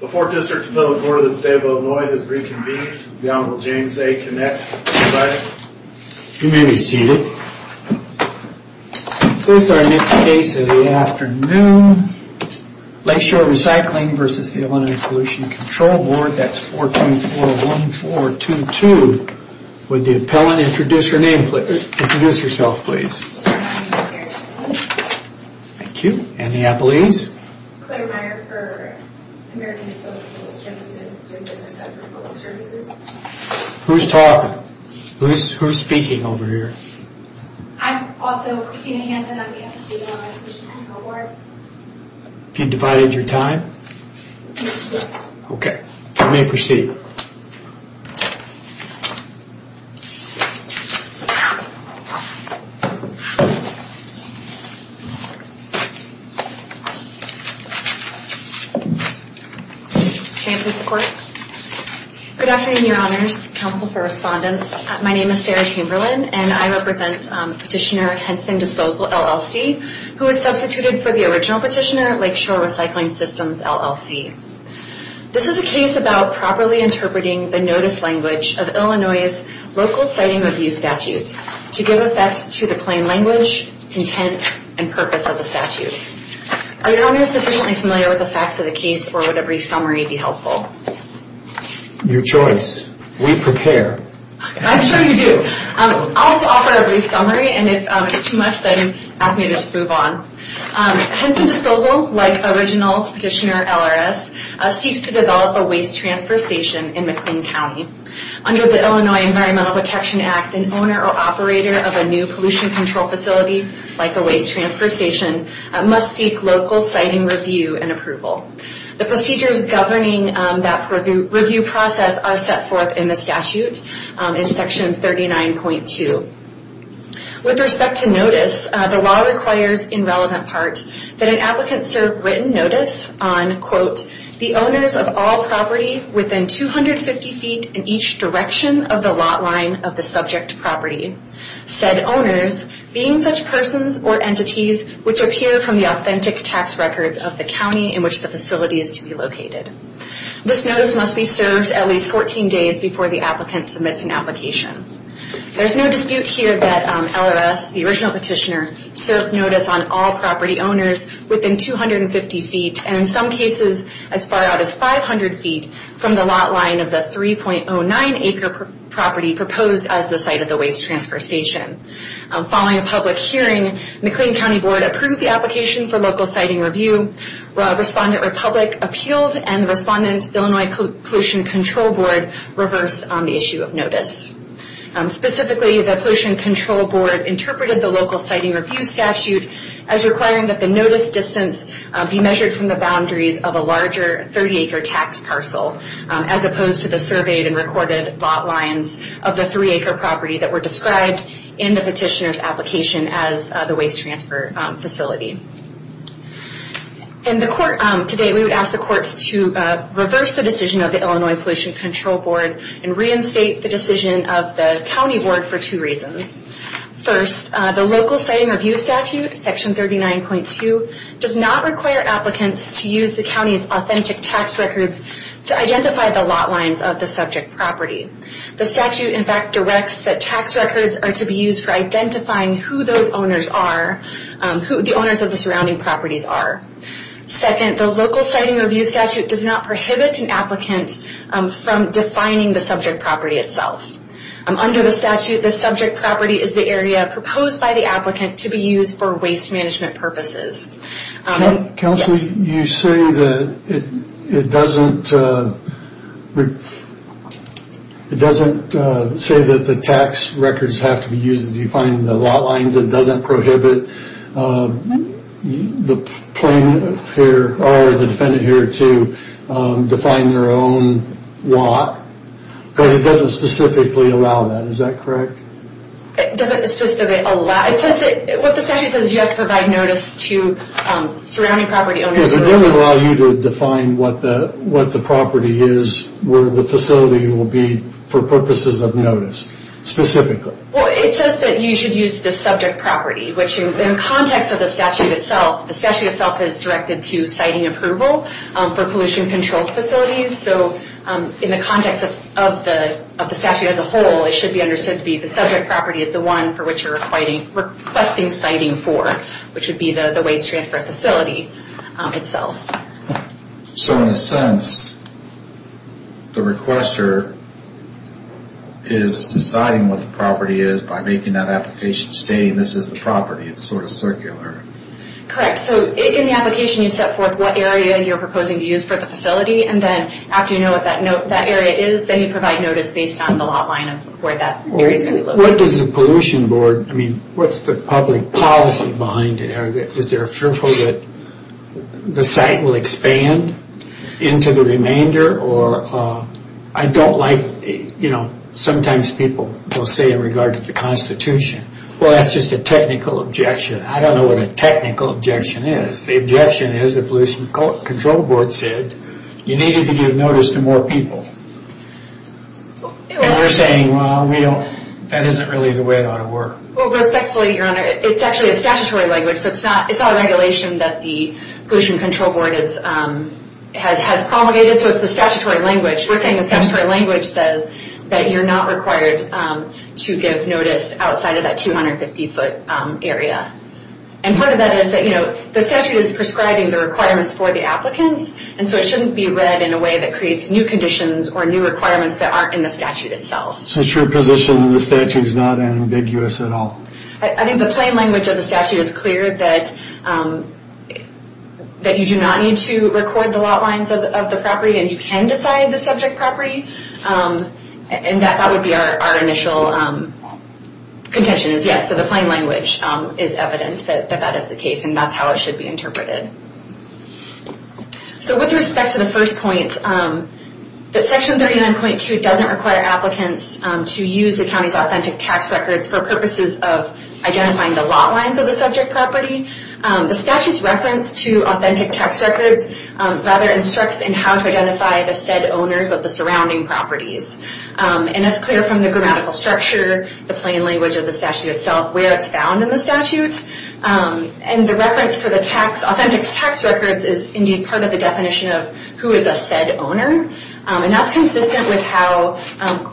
The Fourth District's Bill of Order of the State of Illinois has reconvened. The Honorable James A. Kinnett is presiding. You may be seated. This is our next case of the afternoon. Lakeshore Recycling versus the Illinois Pollution Control Board. That's 4241422. Would the appellant introduce her name, introduce herself, please. Thank you. And the appellees. Claire Meyer for American Disposal Services, doing business with public services. Who's talking? Who's speaking over here? I'm also Christina Hampton on behalf of the Illinois Pollution Control Board. Have you divided your time? OK, you may proceed. Good afternoon, Your Honors, Counsel for Respondents. My name is Sarah Chamberlain, and I represent Petitioner Henson Disposal, LLC, who is substituted for the original petitioner, Lakeshore Recycling Systems, LLC. This is a case about properly interpreting the notice language of Illinois' Local Sighting Review Statute to give effect to the plain language, intent, and purpose of the statute. Are Your Honors sufficiently familiar with the facts of the case, or would a brief summary be helpful? Your choice. We prepare. I'm sure you do. I'll also offer a brief summary, and if it's too much, then ask me to just move on. Henson Disposal, like original petitioner LRS, seeks to develop a waste transfer station in McLean County. Under the Illinois Environmental Protection Act, an owner or operator of a new pollution control facility, like a waste transfer station, must seek local sighting review and approval. The procedures governing that review process are set forth in the statute, in Section 39.2. With respect to notice, the law requires, in relevant parts, that an applicant serve written notice on, quote, the owners of all property within 250 feet in each direction of the lot line of the subject property. Said owners being such persons or entities which appear from the authentic tax records of the county in which the facility is to be located. This notice must be served at least 14 days before the applicant submits an application. There's no dispute here that LRS, the original petitioner, served notice on all property owners within 250 feet, and in some cases as far out as 500 feet from the lot line of the 3.09 acre property proposed as the site of the waste transfer station. Following a public hearing, McLean County Board approved the application for local sighting review. Respondent Republic appealed, and Respondent Illinois Pollution Control Board reversed on the issue of notice. Specifically, the Pollution Control Board interpreted the local sighting review statute as requiring that the notice distance be measured from the boundaries of a larger 30 acre tax parcel, as opposed to the surveyed and recorded lot lines of the 3 acre property that were described in the petitioner's application as the waste transfer facility. In the court, today we would ask the courts to reverse the decision of the Illinois Pollution Control Board and reinstate the decision of the county board for two reasons. First, the local sighting review statute, section 39.2, does not require applicants to use the county's authentic tax records to identify the lot lines of the subject property. The statute, in fact, directs that tax records are to be used for identifying who those owners are, who the owners of the surrounding properties are. Second, the local sighting review statute does not prohibit an applicant from defining the subject property itself. Under the statute, the subject property is the area proposed by the applicant to be used for waste management purposes. Counsel, you say that it doesn't say that the tax records have to be used to define the lot lines, it doesn't prohibit the defendant here to define their own lot, but it doesn't specifically allow that, is that correct? It doesn't specifically allow, what the statute says is you have to provide notice to surrounding property owners. It doesn't allow you to define what the property is, where the facility will be for purposes of notice, specifically. Well, it says that you should use the subject property, which in the context of the statute itself, the statute itself is directed to sighting approval for pollution control facilities, so in the context of the statute as a whole, it should be understood to be the subject property is the one for which you're requesting sighting for, which would be the waste transfer facility itself. So in a sense, the requester is deciding what the property is by making that application stating this is the property, it's sort of circular. Correct, so in the application you set forth what area you're proposing to use for the facility, and then after you know what that area is, then you provide notice based on the lot line of where that area is going to be located. What does the pollution board, I mean, what's the public policy behind it? Is there a fear that the site will expand into the remainder, or I don't like, you know, sometimes people will say in regard to the constitution, well that's just a technical objection. I don't know what a technical objection is. The objection is the pollution control board said you needed to give notice to more people. And you're saying, well, we don't, that isn't really the way it ought to work. Well respectfully, your honor, it's actually a statutory language, so it's not a regulation that the pollution control board has promulgated, so it's the statutory language. We're saying the statutory language says that you're not required to give notice outside of that 250 foot area. And part of that is that, you know, the statute is prescribing the requirements for the applicants, and so it shouldn't be read in a way that creates new conditions or new requirements that aren't in the statute itself. So it's your position the statute is not ambiguous at all? I think the plain language of the statute is clear that you do not need to record the lot lines of the property, and you can decide the subject property, and that would be our initial contention is yes, so the plain language is evident that that is the case, and that's how it should be interpreted. So with respect to the first point, that section 39.2 doesn't require applicants to use the county's authentic tax records for purposes of identifying the lot lines of the subject property. The statute's reference to authentic tax records rather instructs in how to identify the said owners of the surrounding properties. And that's clear from the grammatical structure, the plain language of the statute itself, where it's found in the statute, and the reference for the authentic tax records is indeed part of the definition of who is a said owner, and that's consistent with how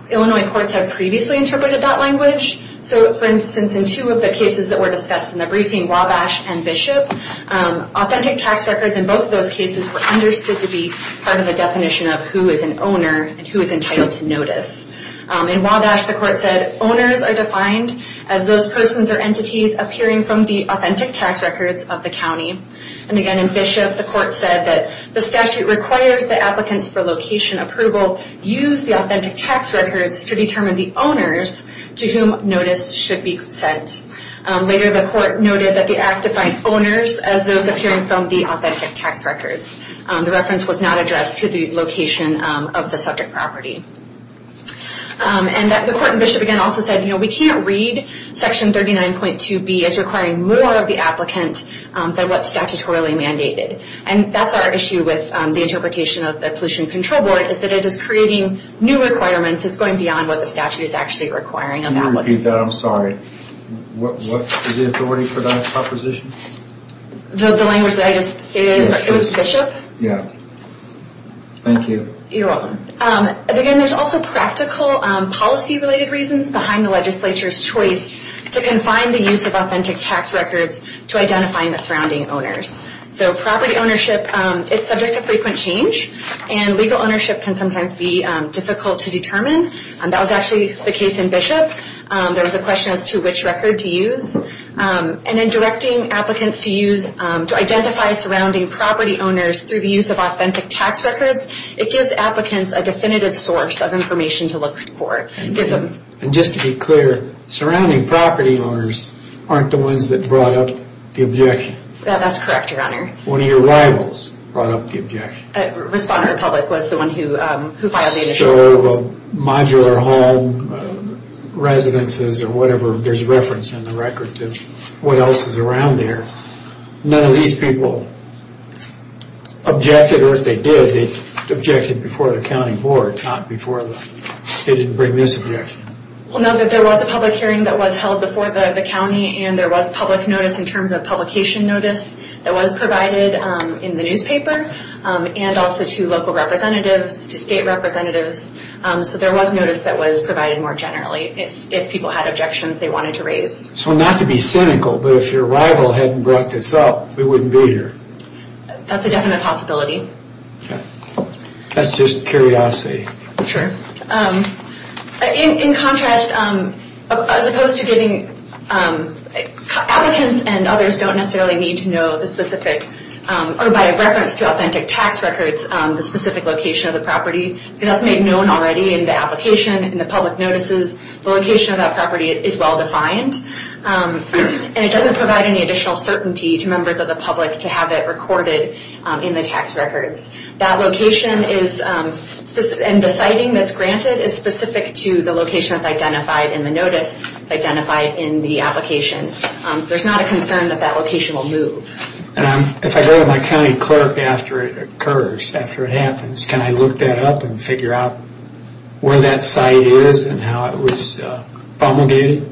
Illinois courts have previously interpreted that language. So for instance, in two of the cases that were discussed in the briefing, Wabash and Bishop, authentic tax records in both of those cases were understood to be part of the definition of who is an owner and who is entitled to notice. In Wabash, the court said, owners are defined as those persons or entities appearing from the authentic tax records of the county. And again in Bishop, the court said that the statute requires that applicants for location approval use the authentic tax records to determine the owners to whom notice should be sent. Later, the court noted that the act defined owners as those appearing from the authentic tax records. The reference was not addressed to the location of the subject property. And the court in Bishop again also said, you know, we can't read section 39.2B as requiring more of the applicant than what's statutorily mandated. And that's our issue with the interpretation of the Pollution Control Board, is that it is creating new requirements that's going beyond what the statute is actually requiring of applicants. Can you repeat that? I'm sorry. What was the authority for that proposition? The language that I just stated? It was Bishop. Yeah. Thank you. You're welcome. And again, there's also practical policy-related reasons behind the legislature's choice to confine the use of authentic tax records to identifying the surrounding owners. So property ownership, it's subject to frequent change, and legal ownership can sometimes be difficult to determine, and that was actually the case in Bishop. There was a question as to which record to use. And in directing applicants to use, to identify surrounding property owners through the use of authentic tax records, it gives applicants a definitive source of information to look for. And just to be clear, surrounding property owners aren't the ones that brought up the Yeah, that's correct, Your Honor. One of your rivals brought up the objection. Responder Republic was the one who filed the initial report. So modular home residences or whatever, there's reference in the record to what else is around there. None of these people objected, or if they did, they objected before the county board, not before the, they didn't bring this objection. Well, no, there was a public hearing that was held before the county and there was public notice in terms of publication notice that was provided in the newspaper, and also to local representatives, to state representatives, so there was notice that was provided more generally if people had objections they wanted to raise. So not to be cynical, but if your rival hadn't brought this up, we wouldn't be here. That's a definite possibility. That's just curiosity. Sure. In contrast, as opposed to getting, applicants and others don't necessarily need to know the specific, or by reference to authentic tax records, the specific location of the property. It has to be known already in the application, in the public notices, the location of that property is well defined, and it doesn't provide any additional certainty to members of the public to have it recorded in the tax records. That location is specific, and the siting that's granted is specific to the location that's identified in the notice, identified in the application. There's not a concern that that location will move. If I go to my county clerk after it occurs, after it happens, can I look that up and figure out where that site is and how it was promulgated?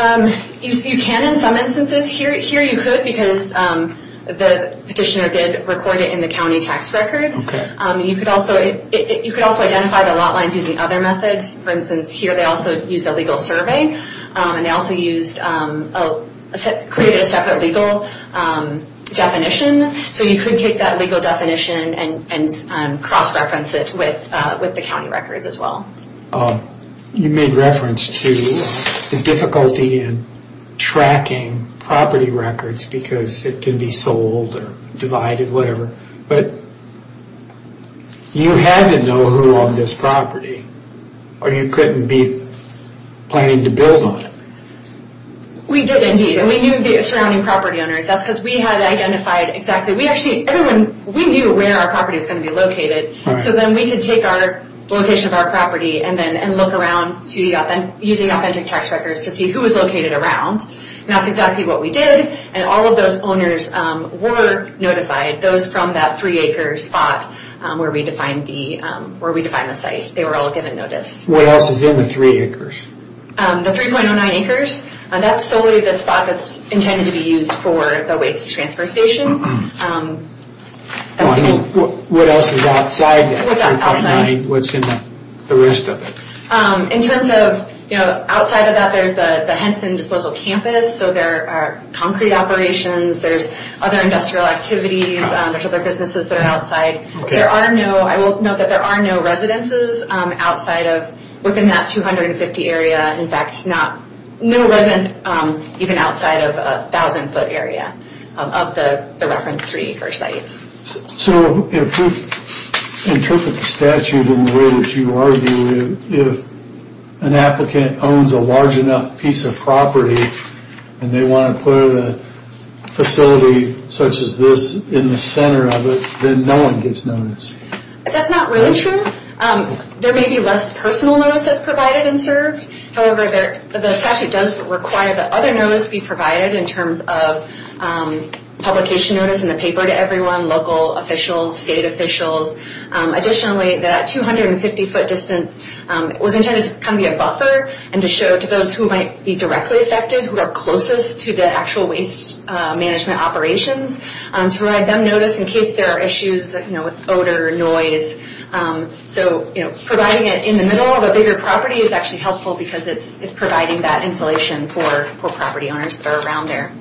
You can in some instances. Here you could because the petitioner did record it in the county tax records. You could also identify the lot lines using other methods. For instance, here they also used a legal survey, and they also created a separate legal definition, so you could take that legal definition and cross-reference it with the county records as well. You made reference to the difficulty in tracking property records because it can be sold or identified or whatever, but you had to know who owned this property, or you couldn't be planning to build on it. We did indeed, and we knew the surrounding property owners. That's because we had identified exactly. We knew where our property was going to be located, so then we could take our location of our property and look around using authentic tax records to see who was located around. That's exactly what we did, and all of those owners were notified. Those from that three-acre spot where we defined the site, they were all given notice. What else is in the three acres? The 3.09 acres, that's solely the spot that's intended to be used for the waste transfer station. What else is outside that 3.09? What's in the rest of it? Outside of that, there's the Henson Disposal Campus. There are concrete operations. There's other industrial activities. There's other businesses that are outside. I will note that there are no residences within that 250 area. In fact, no residence even outside of a 1,000-foot area of the reference three-acre site. If we interpret the statute in the way that you argue, if an applicant owns a large enough piece of property and they want to put a facility such as this in the center of it, then no one gets notice. That's not really true. There may be less personal notice that's provided and served. However, the statute does require that other notice be provided in terms of publication notice in the paper to everyone, local officials, state officials. Additionally, that 250-foot distance was intended to be a buffer and to show to those who might be directly affected who are closest to the actual waste management operations to provide them notice in case there are issues with odor or noise. Providing it in the middle of a bigger property is actually helpful because it's providing that insulation for property owners that are around there.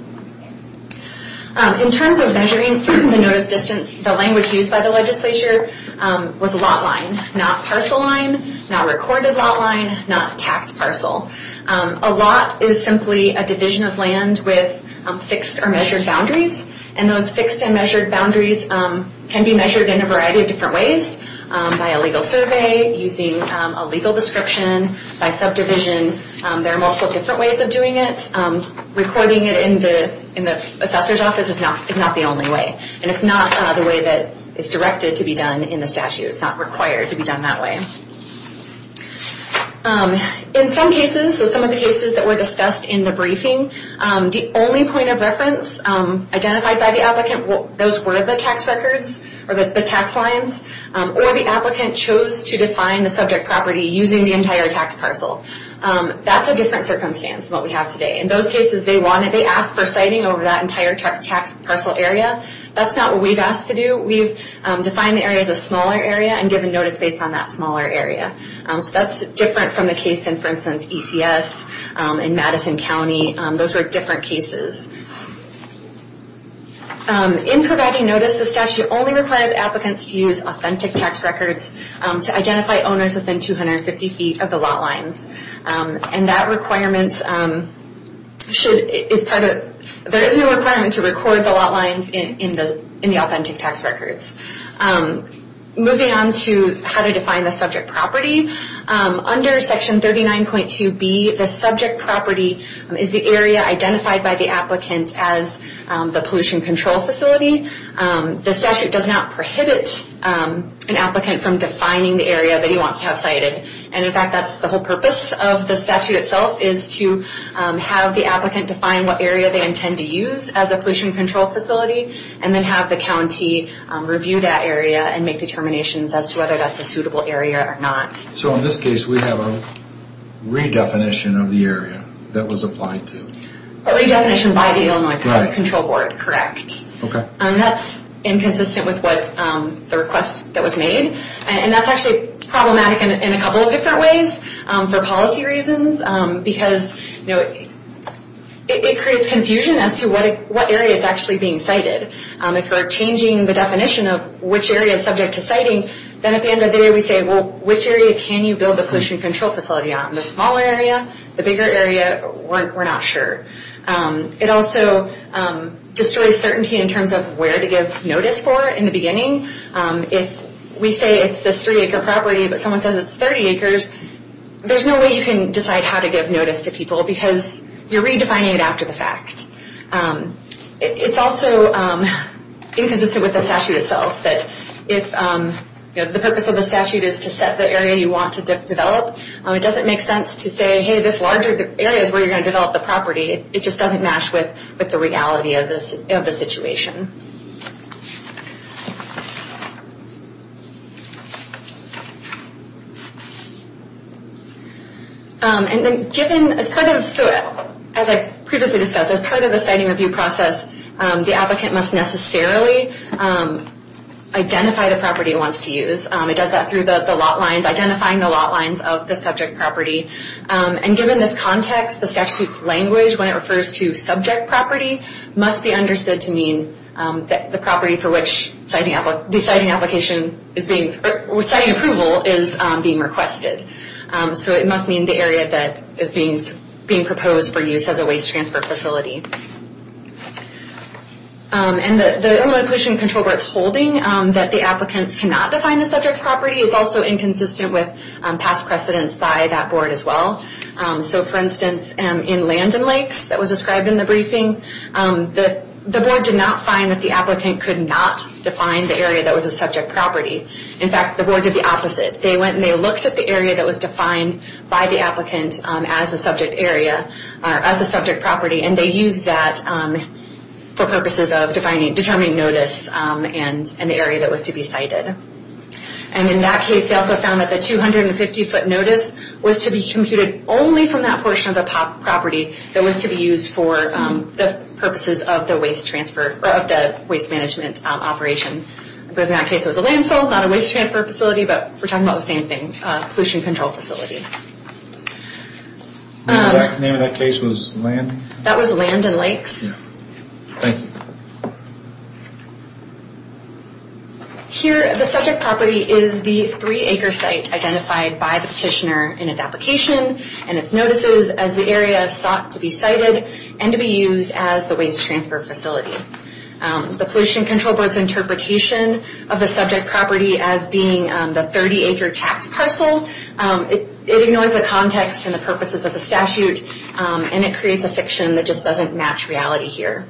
In terms of measuring the notice distance, the language used by the legislature was a lot line, not parcel line, not recorded lot line, not tax parcel. A lot is simply a division of land with fixed or measured boundaries. Those fixed and measured boundaries can be measured in a variety of different ways by a legal survey, using a legal description, by subdivision. There are multiple different ways of doing it. Recording it in the assessor's office is not the only way. And it's not the way that is directed to be done in the statute. It's not required to be done that way. In some cases, so some of the cases that were discussed in the briefing, the only point of reference identified by the applicant, those were the tax records or the tax lines, or the applicant chose to define the subject property using the entire tax parcel. That's a different circumstance than what we have today. In those cases, they asked for siting over that entire tax parcel area. That's not what we've asked to do. We've defined the area as a smaller area and given notice based on that smaller area. So that's different from the case in, for instance, ECS in Madison County. Those were different cases. In providing notice, the statute only requires applicants to use authentic tax records to identify owners within 250 feet of the lot lines. And that requirement should, is part of, there is no requirement to record the lot lines in the authentic tax records. Moving on to how to define the subject property. Under section 39.2B, the subject property is the area identified by the applicant as the pollution control facility. The statute does not prohibit an applicant from defining the area that he wants to have cited. And in fact, that's the whole purpose of the statute itself, is to have the applicant define what area they intend to use as a pollution control facility, and then have the county review that area and make determinations as to whether that's a suitable area or not. So in this case, we have a redefinition of the area that was applied to. A redefinition by the Illinois Pollution Control Board, correct. And that's inconsistent with what, the request that was made. And that's actually problematic in a couple of different ways, for policy reasons, because, you know, it creates confusion as to what area is actually being cited. If we're changing the definition of which area is subject to citing, then at the end of the day we say, well, which area can you build the pollution control facility on? The smaller area, the bigger area, we're not sure. It also destroys certainty in terms of where to give notice for in the beginning. If we say it's this three acre property, but someone says it's 30 acres, there's no way you can decide how to give notice to people because you're redefining it after the fact. It's also inconsistent with the statute itself, that if the purpose of the statute is to set the area you want to develop, it doesn't make sense to say, hey, this larger area is where you're going to develop the property. It just doesn't match with the reality of the situation. And then given, as part of, as I previously discussed, as part of the citing review process, the applicant must necessarily identify the property he wants to use. It does that through the lot lines, identifying the lot lines of the subject property. And given this context, the statute's language, when it refers to subject property, must be understood to mean the property for which the citing application is being, or citing approval is being requested. So it must mean the area that is being proposed for use as a waste transfer facility. And the Inland Pollution Control Board's holding that the applicants cannot define the subject property is also inconsistent with past precedents by that board as well. So, for instance, in Land and Lakes that was described in the briefing, the board did not find that the applicant could not define the area that was a subject property. In fact, the board did the opposite. They went and they looked at the area that was defined by the applicant as a subject area, as a subject property, and they used that for purposes of determining notice and the area that was to be cited. And in that case, they also found that the 250-foot notice was to be computed only from that portion of the property that was to be used for the purposes of the waste transfer, of the waste management operation. But in that case, it was a landfill, not a waste transfer facility, but we're talking about the same thing, a pollution control facility. The exact name of that case was Land? That was Land and Lakes. Thank you. Here, the subject property is the three-acre site identified by the petitioner in its application and its notices as the area sought to be cited and to be used as the waste transfer facility. The Pollution Control Board's interpretation of the subject property as being the 30-acre tax parcel, it ignores the context and the purposes of the statute, and it creates a fiction that just doesn't match reality here.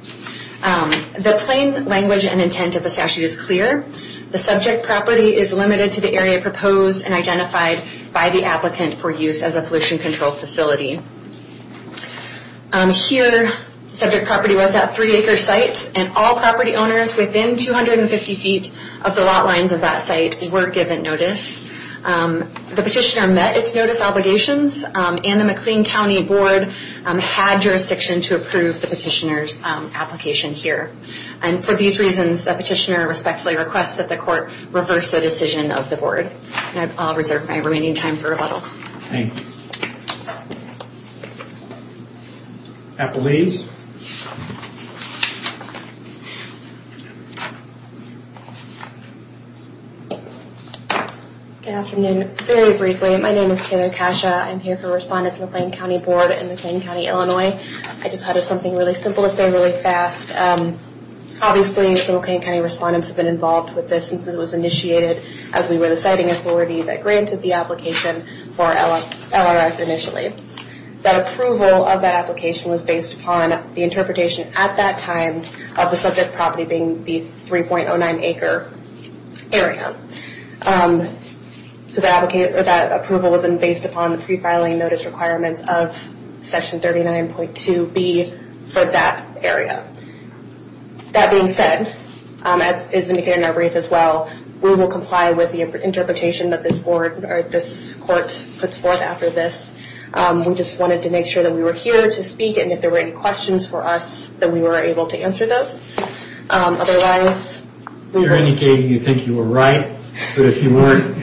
The plain language and intent of the statute is clear. The subject property is limited to the area proposed and identified by the applicant for use as a pollution control facility. Here, subject property was that three-acre site, and all property owners within 250 feet of the lot lines of that site were given notice. The petitioner met its notice obligations, and the McLean County Board had jurisdiction to approve the petitioner's application here. And for these reasons, the petitioner respectfully requests that the court reverse the decision of the board. And I'll reserve my remaining time for rebuttal. Thank you. Appellees. Good afternoon. Very briefly, my name is Taylor Kasha. I'm here for respondents of the McLean County Board in McLean County, Illinois. I just wanted something really simple to say really fast. Obviously, the McLean County respondents have been involved with this since it was initiated as we were the citing authority that granted the application for LRS initially. That approval of that application was based upon the interpretation at that time of the subject property being the 3.09-acre area. So that approval was based upon the pre-filing notice requirements of Section 39.2b for that area. That being said, as indicated in our brief as well, we will comply with the interpretation that this court puts forth after this. We just wanted to make sure that we were here to speak, and if there were any questions for us, that we were able to answer those. Otherwise, we will. We're indicating you think you were right, but if you weren't,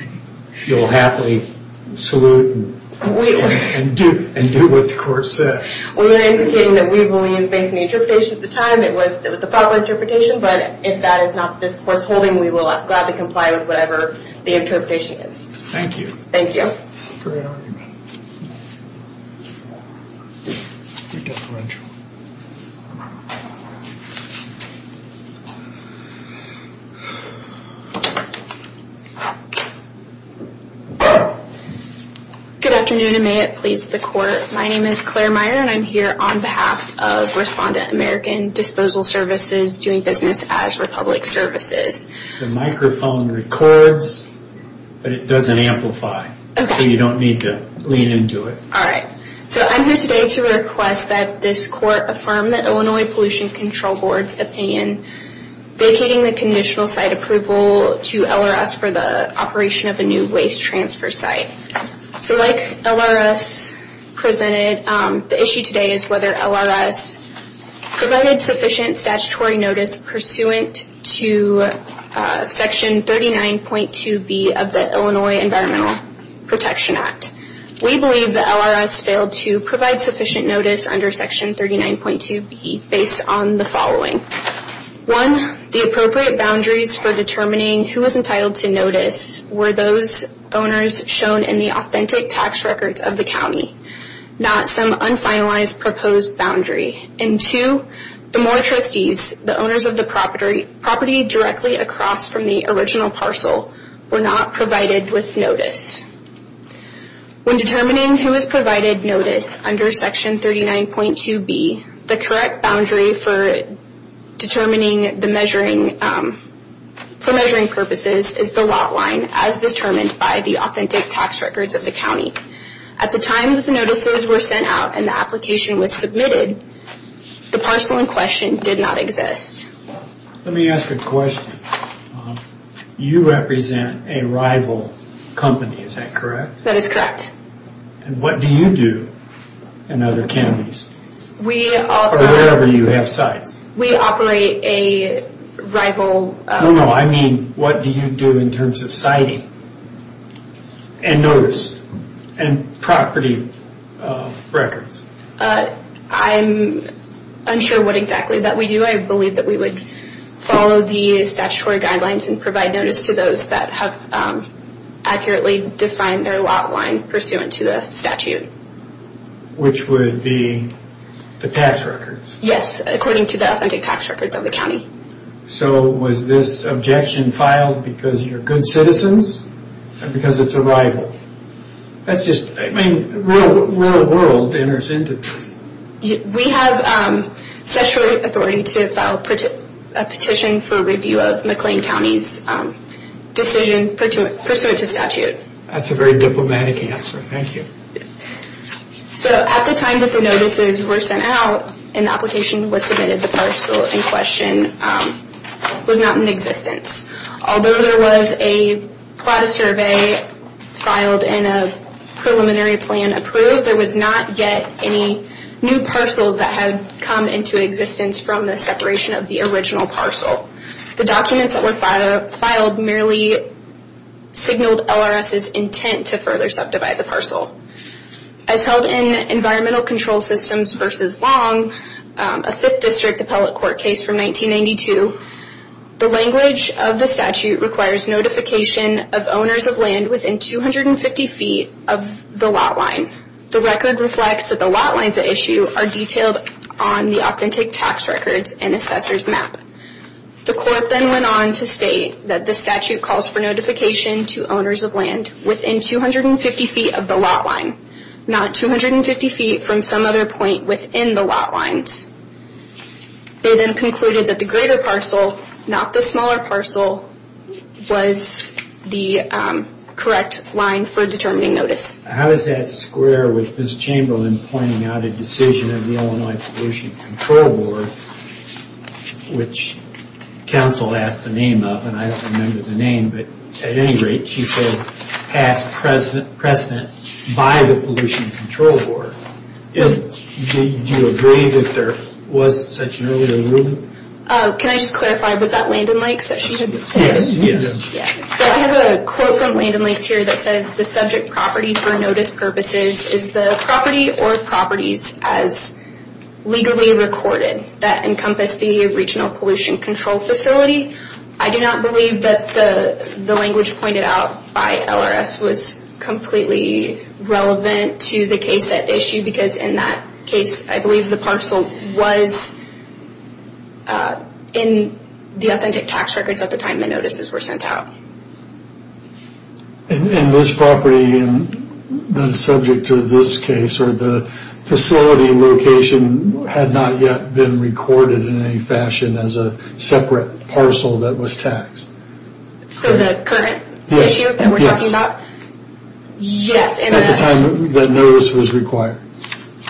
you'll happily salute and do what the court says. We are indicating that we believe, based on the interpretation at the time, it was the proper interpretation, but if that is not this court's holding, we will gladly comply with whatever the interpretation is. Thank you. Thank you. Great argument. Good afternoon, and may it please the court. My name is Claire Meyer, and I'm here on behalf of Respondent American Disposal Services doing business as Republic Services. The microphone records, but it doesn't amplify. Okay. So you don't need to lean into it. All right. So I'm here today to request that this court affirm the Illinois Pollution Control Board's opinion vacating the conditional site approval to LRS for the operation of a new waste transfer site. So like LRS presented, the issue today is whether LRS provided sufficient statutory notice pursuant to Section 39.2b of the Illinois Environmental Protection Act. We believe that LRS failed to provide sufficient notice under Section 39.2b based on the following. One, the appropriate boundaries for determining who was entitled to notice were those owners shown in the authentic tax records of the county, not some unfinalized proposed boundary. And two, the Moore trustees, the owners of the property directly across from the original parcel, were not provided with notice. When determining who is provided notice under Section 39.2b, the correct boundary for determining the measuring purposes is the lot line as determined by the authentic tax records of the county. At the time that the notices were sent out and the application was submitted, the parcel in question did not exist. Let me ask a question. You represent a rival company, is that correct? That is correct. And what do you do in other counties or wherever you have sites? We operate a rival... No, no, I mean what do you do in terms of siting and notice and property records? I'm unsure what exactly that we do. I believe that we would follow the statutory guidelines and provide notice to those that have accurately defined their lot line pursuant to the statute. Which would be the tax records? Yes, according to the authentic tax records of the county. So was this objection filed because you're good citizens or because it's a rival? That's just, I mean, real world enters into this. We have statutory authority to file a petition for review of McLean County's decision pursuant to statute. That's a very diplomatic answer, thank you. So at the time that the notices were sent out and the application was submitted, the parcel in question was not in existence. Although there was a plot of survey filed and a preliminary plan approved, there was not yet any new parcels that had come into existence from the separation of the original parcel. The documents that were filed merely signaled LRS's intent to further subdivide the parcel. As held in Environmental Control Systems v. Long, a 5th District Appellate Court case from 1992, the language of the statute requires notification of owners of land within 250 feet of the lot line. The record reflects that the lot lines at issue are detailed on the authentic tax records and assessor's map. The court then went on to state that the statute calls for notification to owners of land within 250 feet of the lot line, not 250 feet from some other point within the lot lines. They then concluded that the greater parcel, not the smaller parcel, was the correct line for determining notice. How is that square with Ms. Chamberlain pointing out a decision of the Illinois Pollution Control Board, which counsel asked the name of and I don't remember the name, but at any rate she said past precedent by the Pollution Control Board. Yes, do you agree that there was such an earlier ruling? Can I just clarify, was that Land and Lakes that she had said? Yes. So I have a quote from Land and Lakes here that says, the subject property for notice purposes is the property or properties as legally recorded that encompass the Regional Pollution Control Facility. I do not believe that the language pointed out by LRS was completely relevant to the case at issue because in that case I believe the parcel was in the authentic tax records at the time the notices were sent out. And this property then subject to this case or the facility location had not yet been recorded in any fashion as a separate parcel that was taxed. So the current issue that we're talking about? Yes. At the time that notice was required?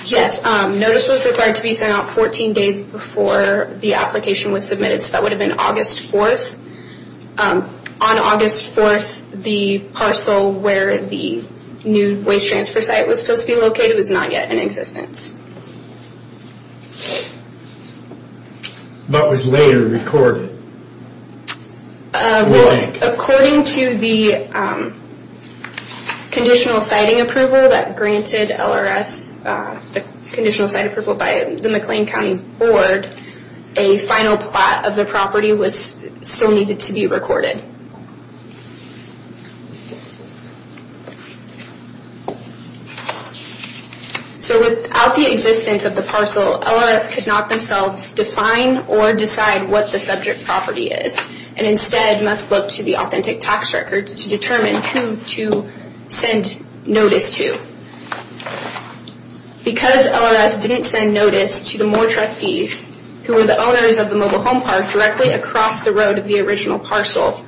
Yes, notice was required to be sent out 14 days before the application was submitted. So that would have been August 4th. On August 4th, the parcel where the new waste transfer site was supposed to be located was not yet in existence. What was later recorded? According to the conditional siting approval that granted LRS, the conditional site approval by the McLean County Board, a final plat of the property still needed to be recorded. So without the existence of the parcel, LRS could not themselves define or decide what the subject property is and instead must look to the authentic tax records to determine who to send notice to. Because LRS didn't send notice to the Moore trustees, who were the owners of the mobile home park directly across the road of the original parcel,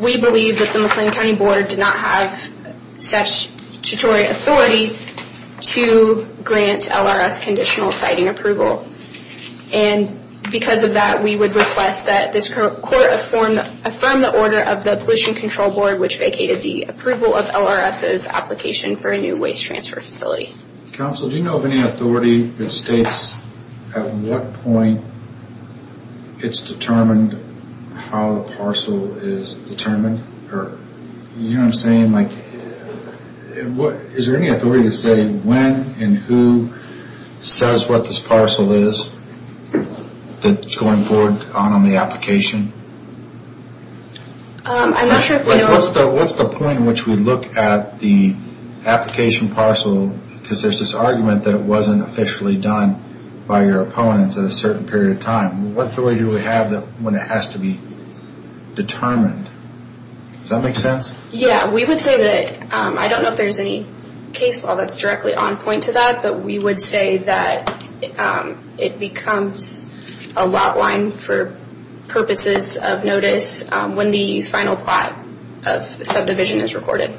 we believe that the McLean County Board did not have such statutory authority to grant LRS conditional siting approval. And because of that, we would request that this court affirm the order of the Pollution Control Board, which vacated the approval of LRS's application for a new waste transfer facility. Counsel, do you know of any authority that states at what point it's determined how the parcel is determined? Is there any authority to say when and who says what this parcel is that's going forward on the application? I'm not sure if we know... What's the point in which we look at the application parcel, because there's this argument that it wasn't officially done by your opponents at a certain period of time. What authority do we have when it has to be determined? Does that make sense? Yeah, we would say that, I don't know if there's any case law that's directly on point to that, but we would say that it becomes a lot line for purposes of notice when the final plot of subdivision is recorded.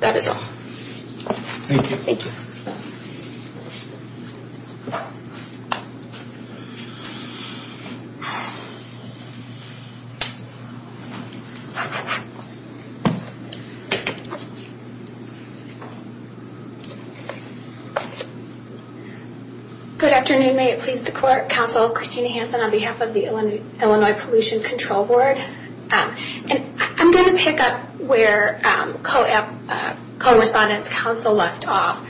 That is all. Thank you. Thank you. Good afternoon. May it please the court. Counsel Christina Hanson on behalf of the Illinois Pollution Control Board. I'm going to pick up where co-respondent's counsel left off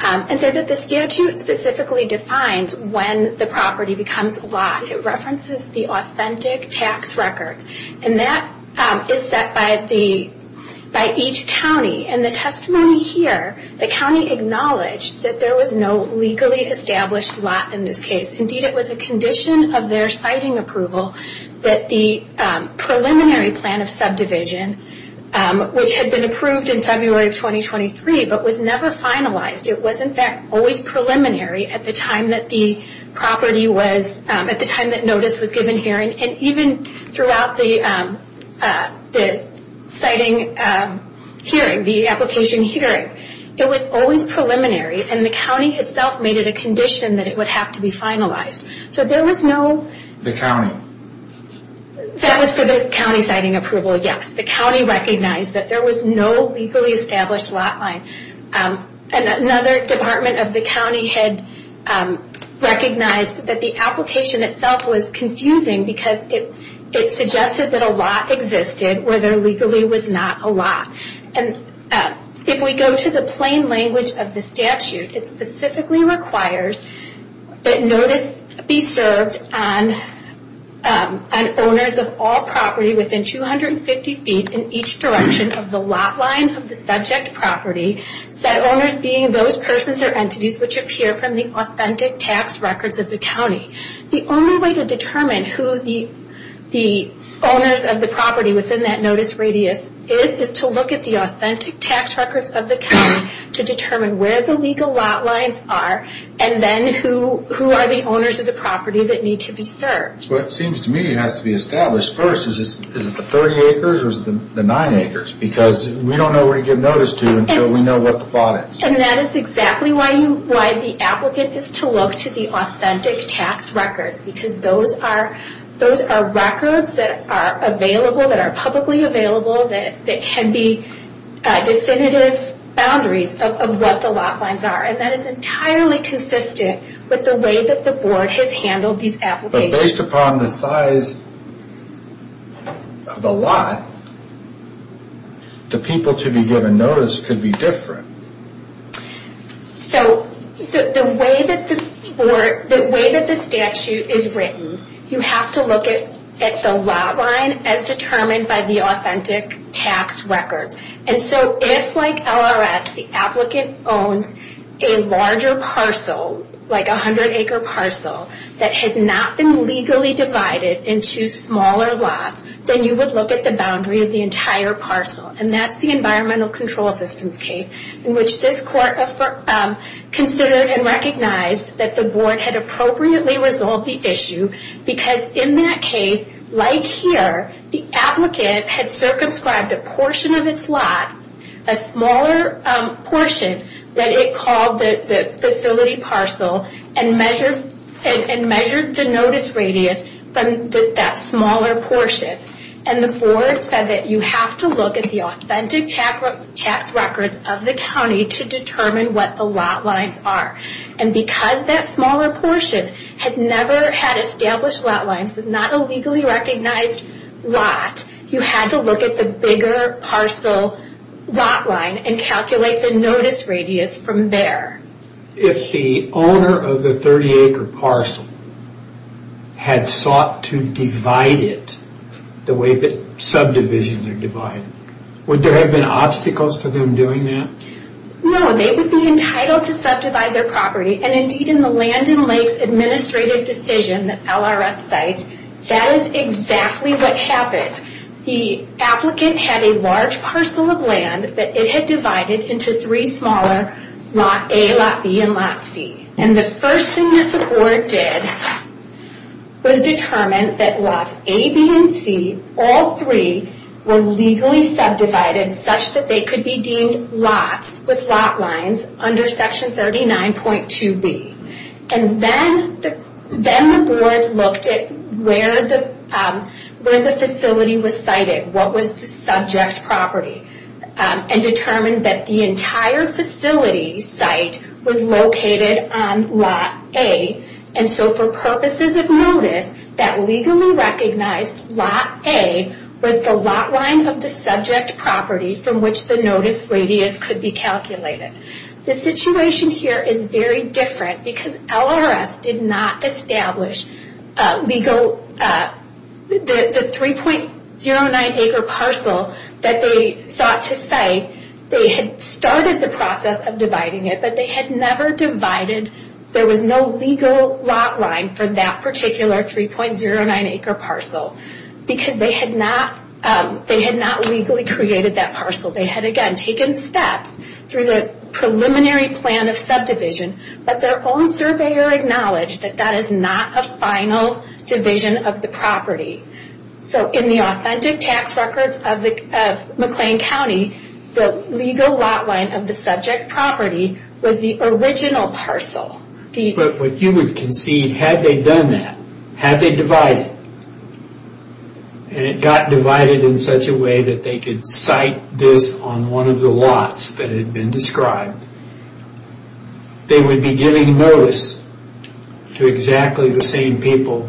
and say that the statute specifically defines when the property becomes a lot. It references the authentic tax records, and that is set by the Illinois Pollution Control Board. By each county, and the testimony here, the county acknowledged that there was no legally established lot in this case. Indeed, it was a condition of their siting approval that the preliminary plan of subdivision, which had been approved in February of 2023, but was never finalized. It wasn't always preliminary at the time that the property was... At the time that notice was given here, and even throughout the siting hearing, the application hearing, it was always preliminary, and the county itself made it a condition that it would have to be finalized. So there was no... That was for this county siting approval, yes. The county recognized that there was no legally established lot line. Another department of the county had recognized that the application itself was confusing, because it suggested that a lot existed where there legally was not a lot. If we go to the plain language of the statute, it specifically requires that notice be served on owners of all property within 250 feet in each direction of the lot line of the subject property, set owners being those persons or entities which appear from the authentic tax records of the county. The only way to determine who the owners of the property within that notice radius is, is to look at the authentic tax records of the county to determine where the legal lot lines are, and then who are the owners of the property that need to be served. It seems to me it has to be established first, is it the 30 acres or is it the 9 acres? Because we don't know where to give notice to until we know what the lot is. And that is exactly why the applicant is to look to the authentic tax records, because those are records that are available, that are publicly available, that can be definitive boundaries of what the lot lines are. And that is entirely consistent with the way that the board has handled these applications. Based upon the size of the lot, the people to be given notice could be different. So the way that the statute is written, you have to look at the lot line as determined by the authentic tax records. And so if like LRS, the applicant owns a larger parcel, like a 100 acre parcel, that has not been legally divided into smaller lots, then you would look at the boundary of the entire parcel. And that is the Environmental Control Systems case, in which this court considered and recognized that the board had appropriately resolved the issue, because in that case, like here, the applicant had circumscribed a portion of its lot, a smaller portion that it called the facility parcel, and measured the notice radius from that smaller portion. And the board said that you have to look at the authentic tax records of the county to determine what the lot lines are. And because that smaller portion had never had established lot lines, was not a legally recognized lot, you had to look at the bigger parcel lot line and calculate the notice radius from there. If the owner of the 30 acre parcel had sought to divide it the way that subdivisions are divided, would there have been obstacles to them doing that? No, they would be entitled to subdivide their property. And indeed in the Land and Lakes Administrative Decision that LRS cites, that is exactly what happened. The applicant had a large parcel of land that it had divided into three smaller lot A, lot B, and lot C. And the first thing that the board did was determine that lots A, B, and C, all three were legally subdivided such that they could be deemed lots with lot lines under section 39.2B. And then the board looked at where the facility was cited, what was the subject property, and determined that the entire facility site was located on lot A. And so for purposes of notice, that legally recognized lot A was the lot line of the subject property from which the notice radius could be calculated. The situation here is very different because LRS did not establish the 3.09 acre parcel that they sought to cite. They had started the process of dividing it, but they had never divided, there was no legal lot line for that particular 3.09 acre parcel because they had not legally created that parcel. They had, again, taken steps through the preliminary plan of subdivision, but their own surveyor acknowledged that that is not a final division of the property. So in the authentic tax records of McLean County, the legal lot line of the subject property was the original parcel. But what you would concede, had they done that, had they divided, and it got divided in such a way that they could cite this on one of the lots that had been described, they would be giving notice to exactly the same people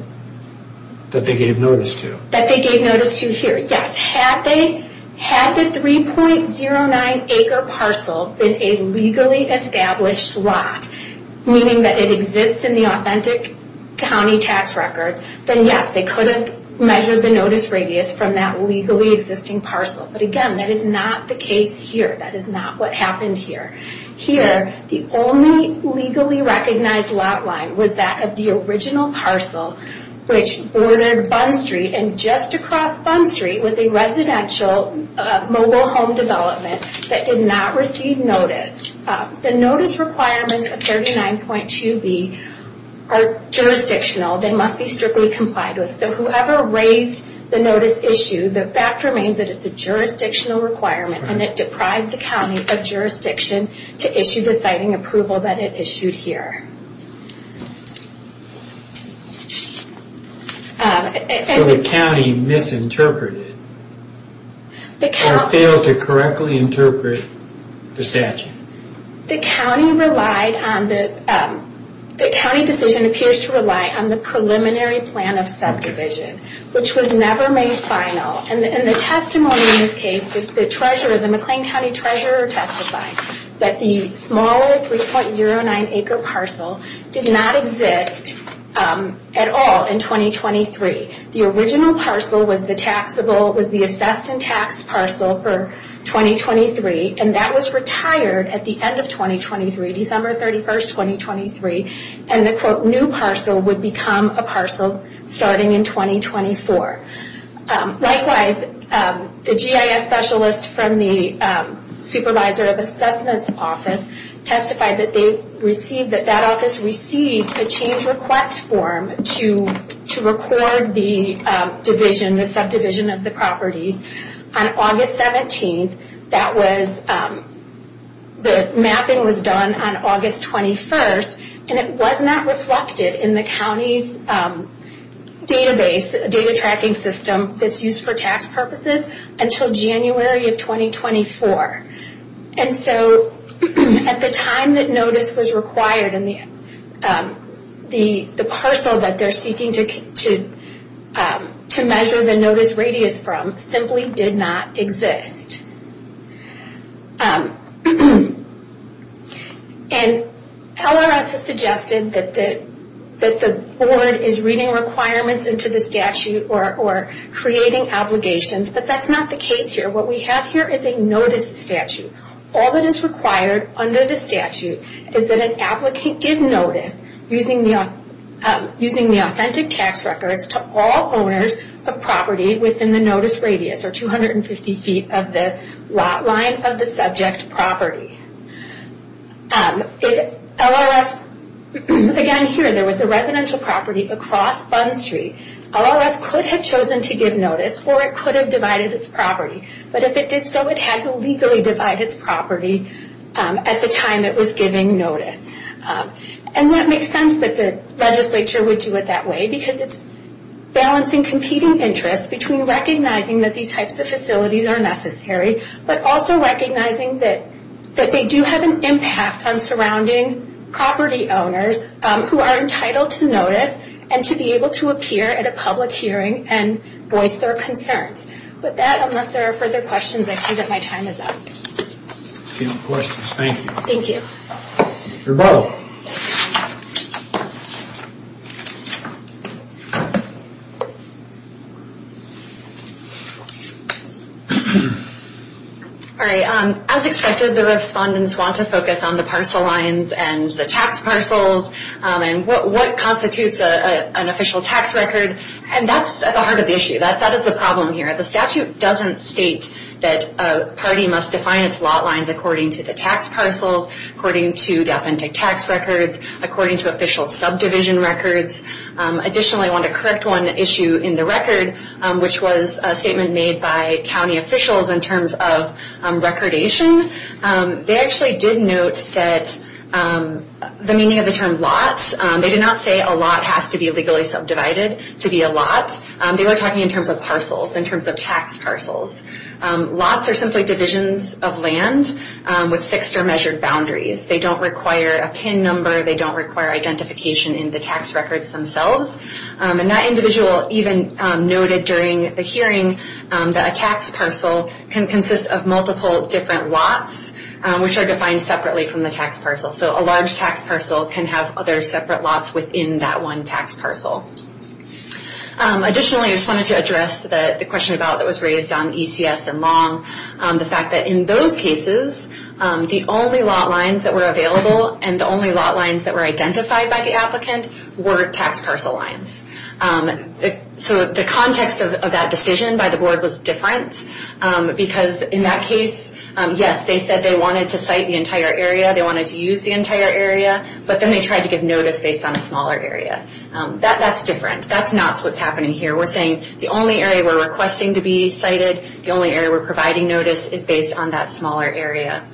that they gave notice to. That they gave notice to here, yes. Had the 3.09 acre parcel been a legally established lot, meaning that it exists in the authentic county tax records, then yes, they could have measured the notice radius from that legally existing parcel. But again, that is not the case here. That is not what happened here. Here, the only legally recognized lot line was that of the original parcel, which bordered Bunn Street and just across Bunn Street was a residential mobile home development that did not receive notice. The notice requirements of 39.2b are jurisdictional. They must be strictly complied with. So whoever raised the notice issue, the fact remains that it is a jurisdictional requirement and it deprived the county of jurisdiction to issue the citing approval that it issued here. So the county misinterpreted or failed to correctly interpret the statute? The county decision appears to rely on the preliminary plan of subdivision, which was never made final. The testimony in this case, the McLean County Treasurer testified that the smaller 3.09-acre parcel did not exist at all in 2023. The original parcel was the assessed and taxed parcel for 2023, and that was retired at the end of 2023, December 31, 2023, and the new parcel would become a parcel starting in 2024. Likewise, the GIS specialist from the Supervisor of Assessments Office testified that that office received a change request form to record the subdivision of the properties. On August 17, the mapping was done on August 21, and it was not reflected in the county's database, the data tracking system that's used for tax purposes until January of 2024. And so at the time that notice was required, the parcel that they're seeking to measure the notice radius from simply did not exist. And LRS has suggested that the board is reading requirements into the statute or creating obligations, but that's not the case here. What we have here is a notice statute. All that is required under the statute is that an applicant give notice using the authentic tax records to all owners of property within the notice radius or 250 feet of the lot line of the subject property. If LRS, again here there was a residential property across Bund Street, LRS could have chosen to give notice or it could have divided its property. But if it did so, it had to legally divide its property at the time it was giving notice. And that makes sense that the legislature would do it that way because it's balancing competing interests between recognizing that these types of facilities are necessary, but also recognizing that they do have an impact on surrounding property owners who are entitled to notice and to be able to appear at a public hearing and voice their concerns. But that, unless there are further questions, I see that my time is up. Seeing no questions, thank you. Thank you. Rebuttal. All right. As expected, the respondents want to focus on the parcel lines and the tax parcels and what constitutes an official tax record. And that's at the heart of the issue. That is the problem here. The statute doesn't state that a party must define its lot lines according to the tax parcels, according to the authentic tax records, according to official subdivision records. Additionally, I want to correct one issue in the record, which was a statement made by county officials in terms of recordation. They actually did note that the meaning of the term lots, they did not say a lot has to be legally subdivided to be a lot. They were talking in terms of parcels, in terms of tax parcels. Lots are simply divisions of land with fixed or measured boundaries. They don't require a PIN number. They don't require identification in the tax records themselves. And that individual even noted during the hearing that a tax parcel can consist of multiple different lots, which are defined separately from the tax parcel. So a large tax parcel can have other separate lots within that one tax parcel. Additionally, I just wanted to address the question about, that was raised on ECS and Long, the fact that in those cases, the only lot lines that were available and the only lot lines that were identified by the applicant were tax parcel lines. So the context of that decision by the board was different, because in that case, yes, they said they wanted to site the entire area, they wanted to use the entire area, but then they tried to give notice based on a smaller area. That's different. That's not what's happening here. We're saying the only area we're requesting to be sited, the only area we're providing notice is based on that smaller area.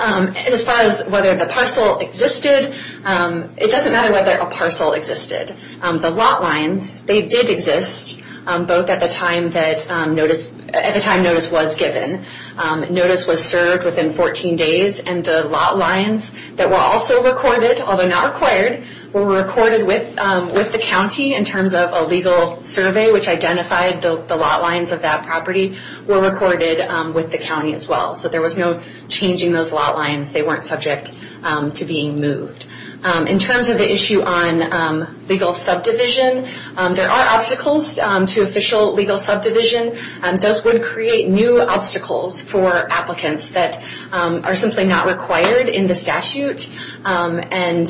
As far as whether the parcel existed, it doesn't matter whether a parcel existed. The lot lines, they did exist, both at the time notice was given. Notice was served within 14 days, and the lot lines that were also recorded, although not required, were recorded with the county in terms of a legal survey, which identified the lot lines of that property were recorded with the county as well. So there was no changing those lot lines. They weren't subject to being moved. In terms of the issue on legal subdivision, there are obstacles to official legal subdivision. Those would create new obstacles for applicants that are simply not required in the statute, and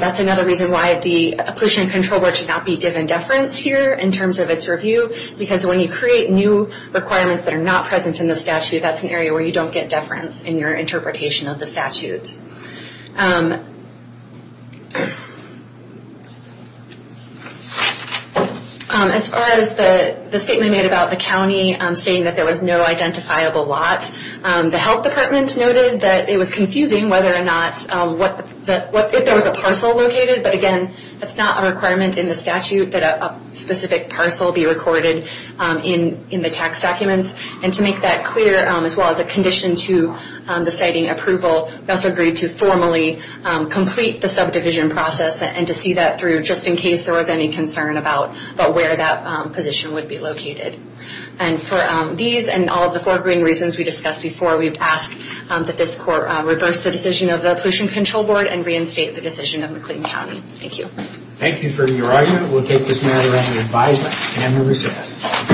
that's another reason why the pollution and control board should not be given deference here in terms of its review, because when you create new requirements that are not present in the statute, that's an area where you don't get deference in your interpretation of the statute. As far as the statement made about the county saying that there was no identifiable lot, the health department noted that it was confusing whether or not, if there was a parcel located, but again, that's not a requirement in the statute that a specific parcel be recorded in the tax documents. And to make that clear, as well as a condition to the siting approval, we also agreed to formally complete the subdivision process and to see that through just in case there was any concern about where that position would be located. And for these and all of the foregoing reasons we discussed before, we ask that this court reverse the decision of the pollution control board and reinstate the decision of McLean County. Thank you. Thank you for your argument. We'll take this matter under advisement and we'll recess.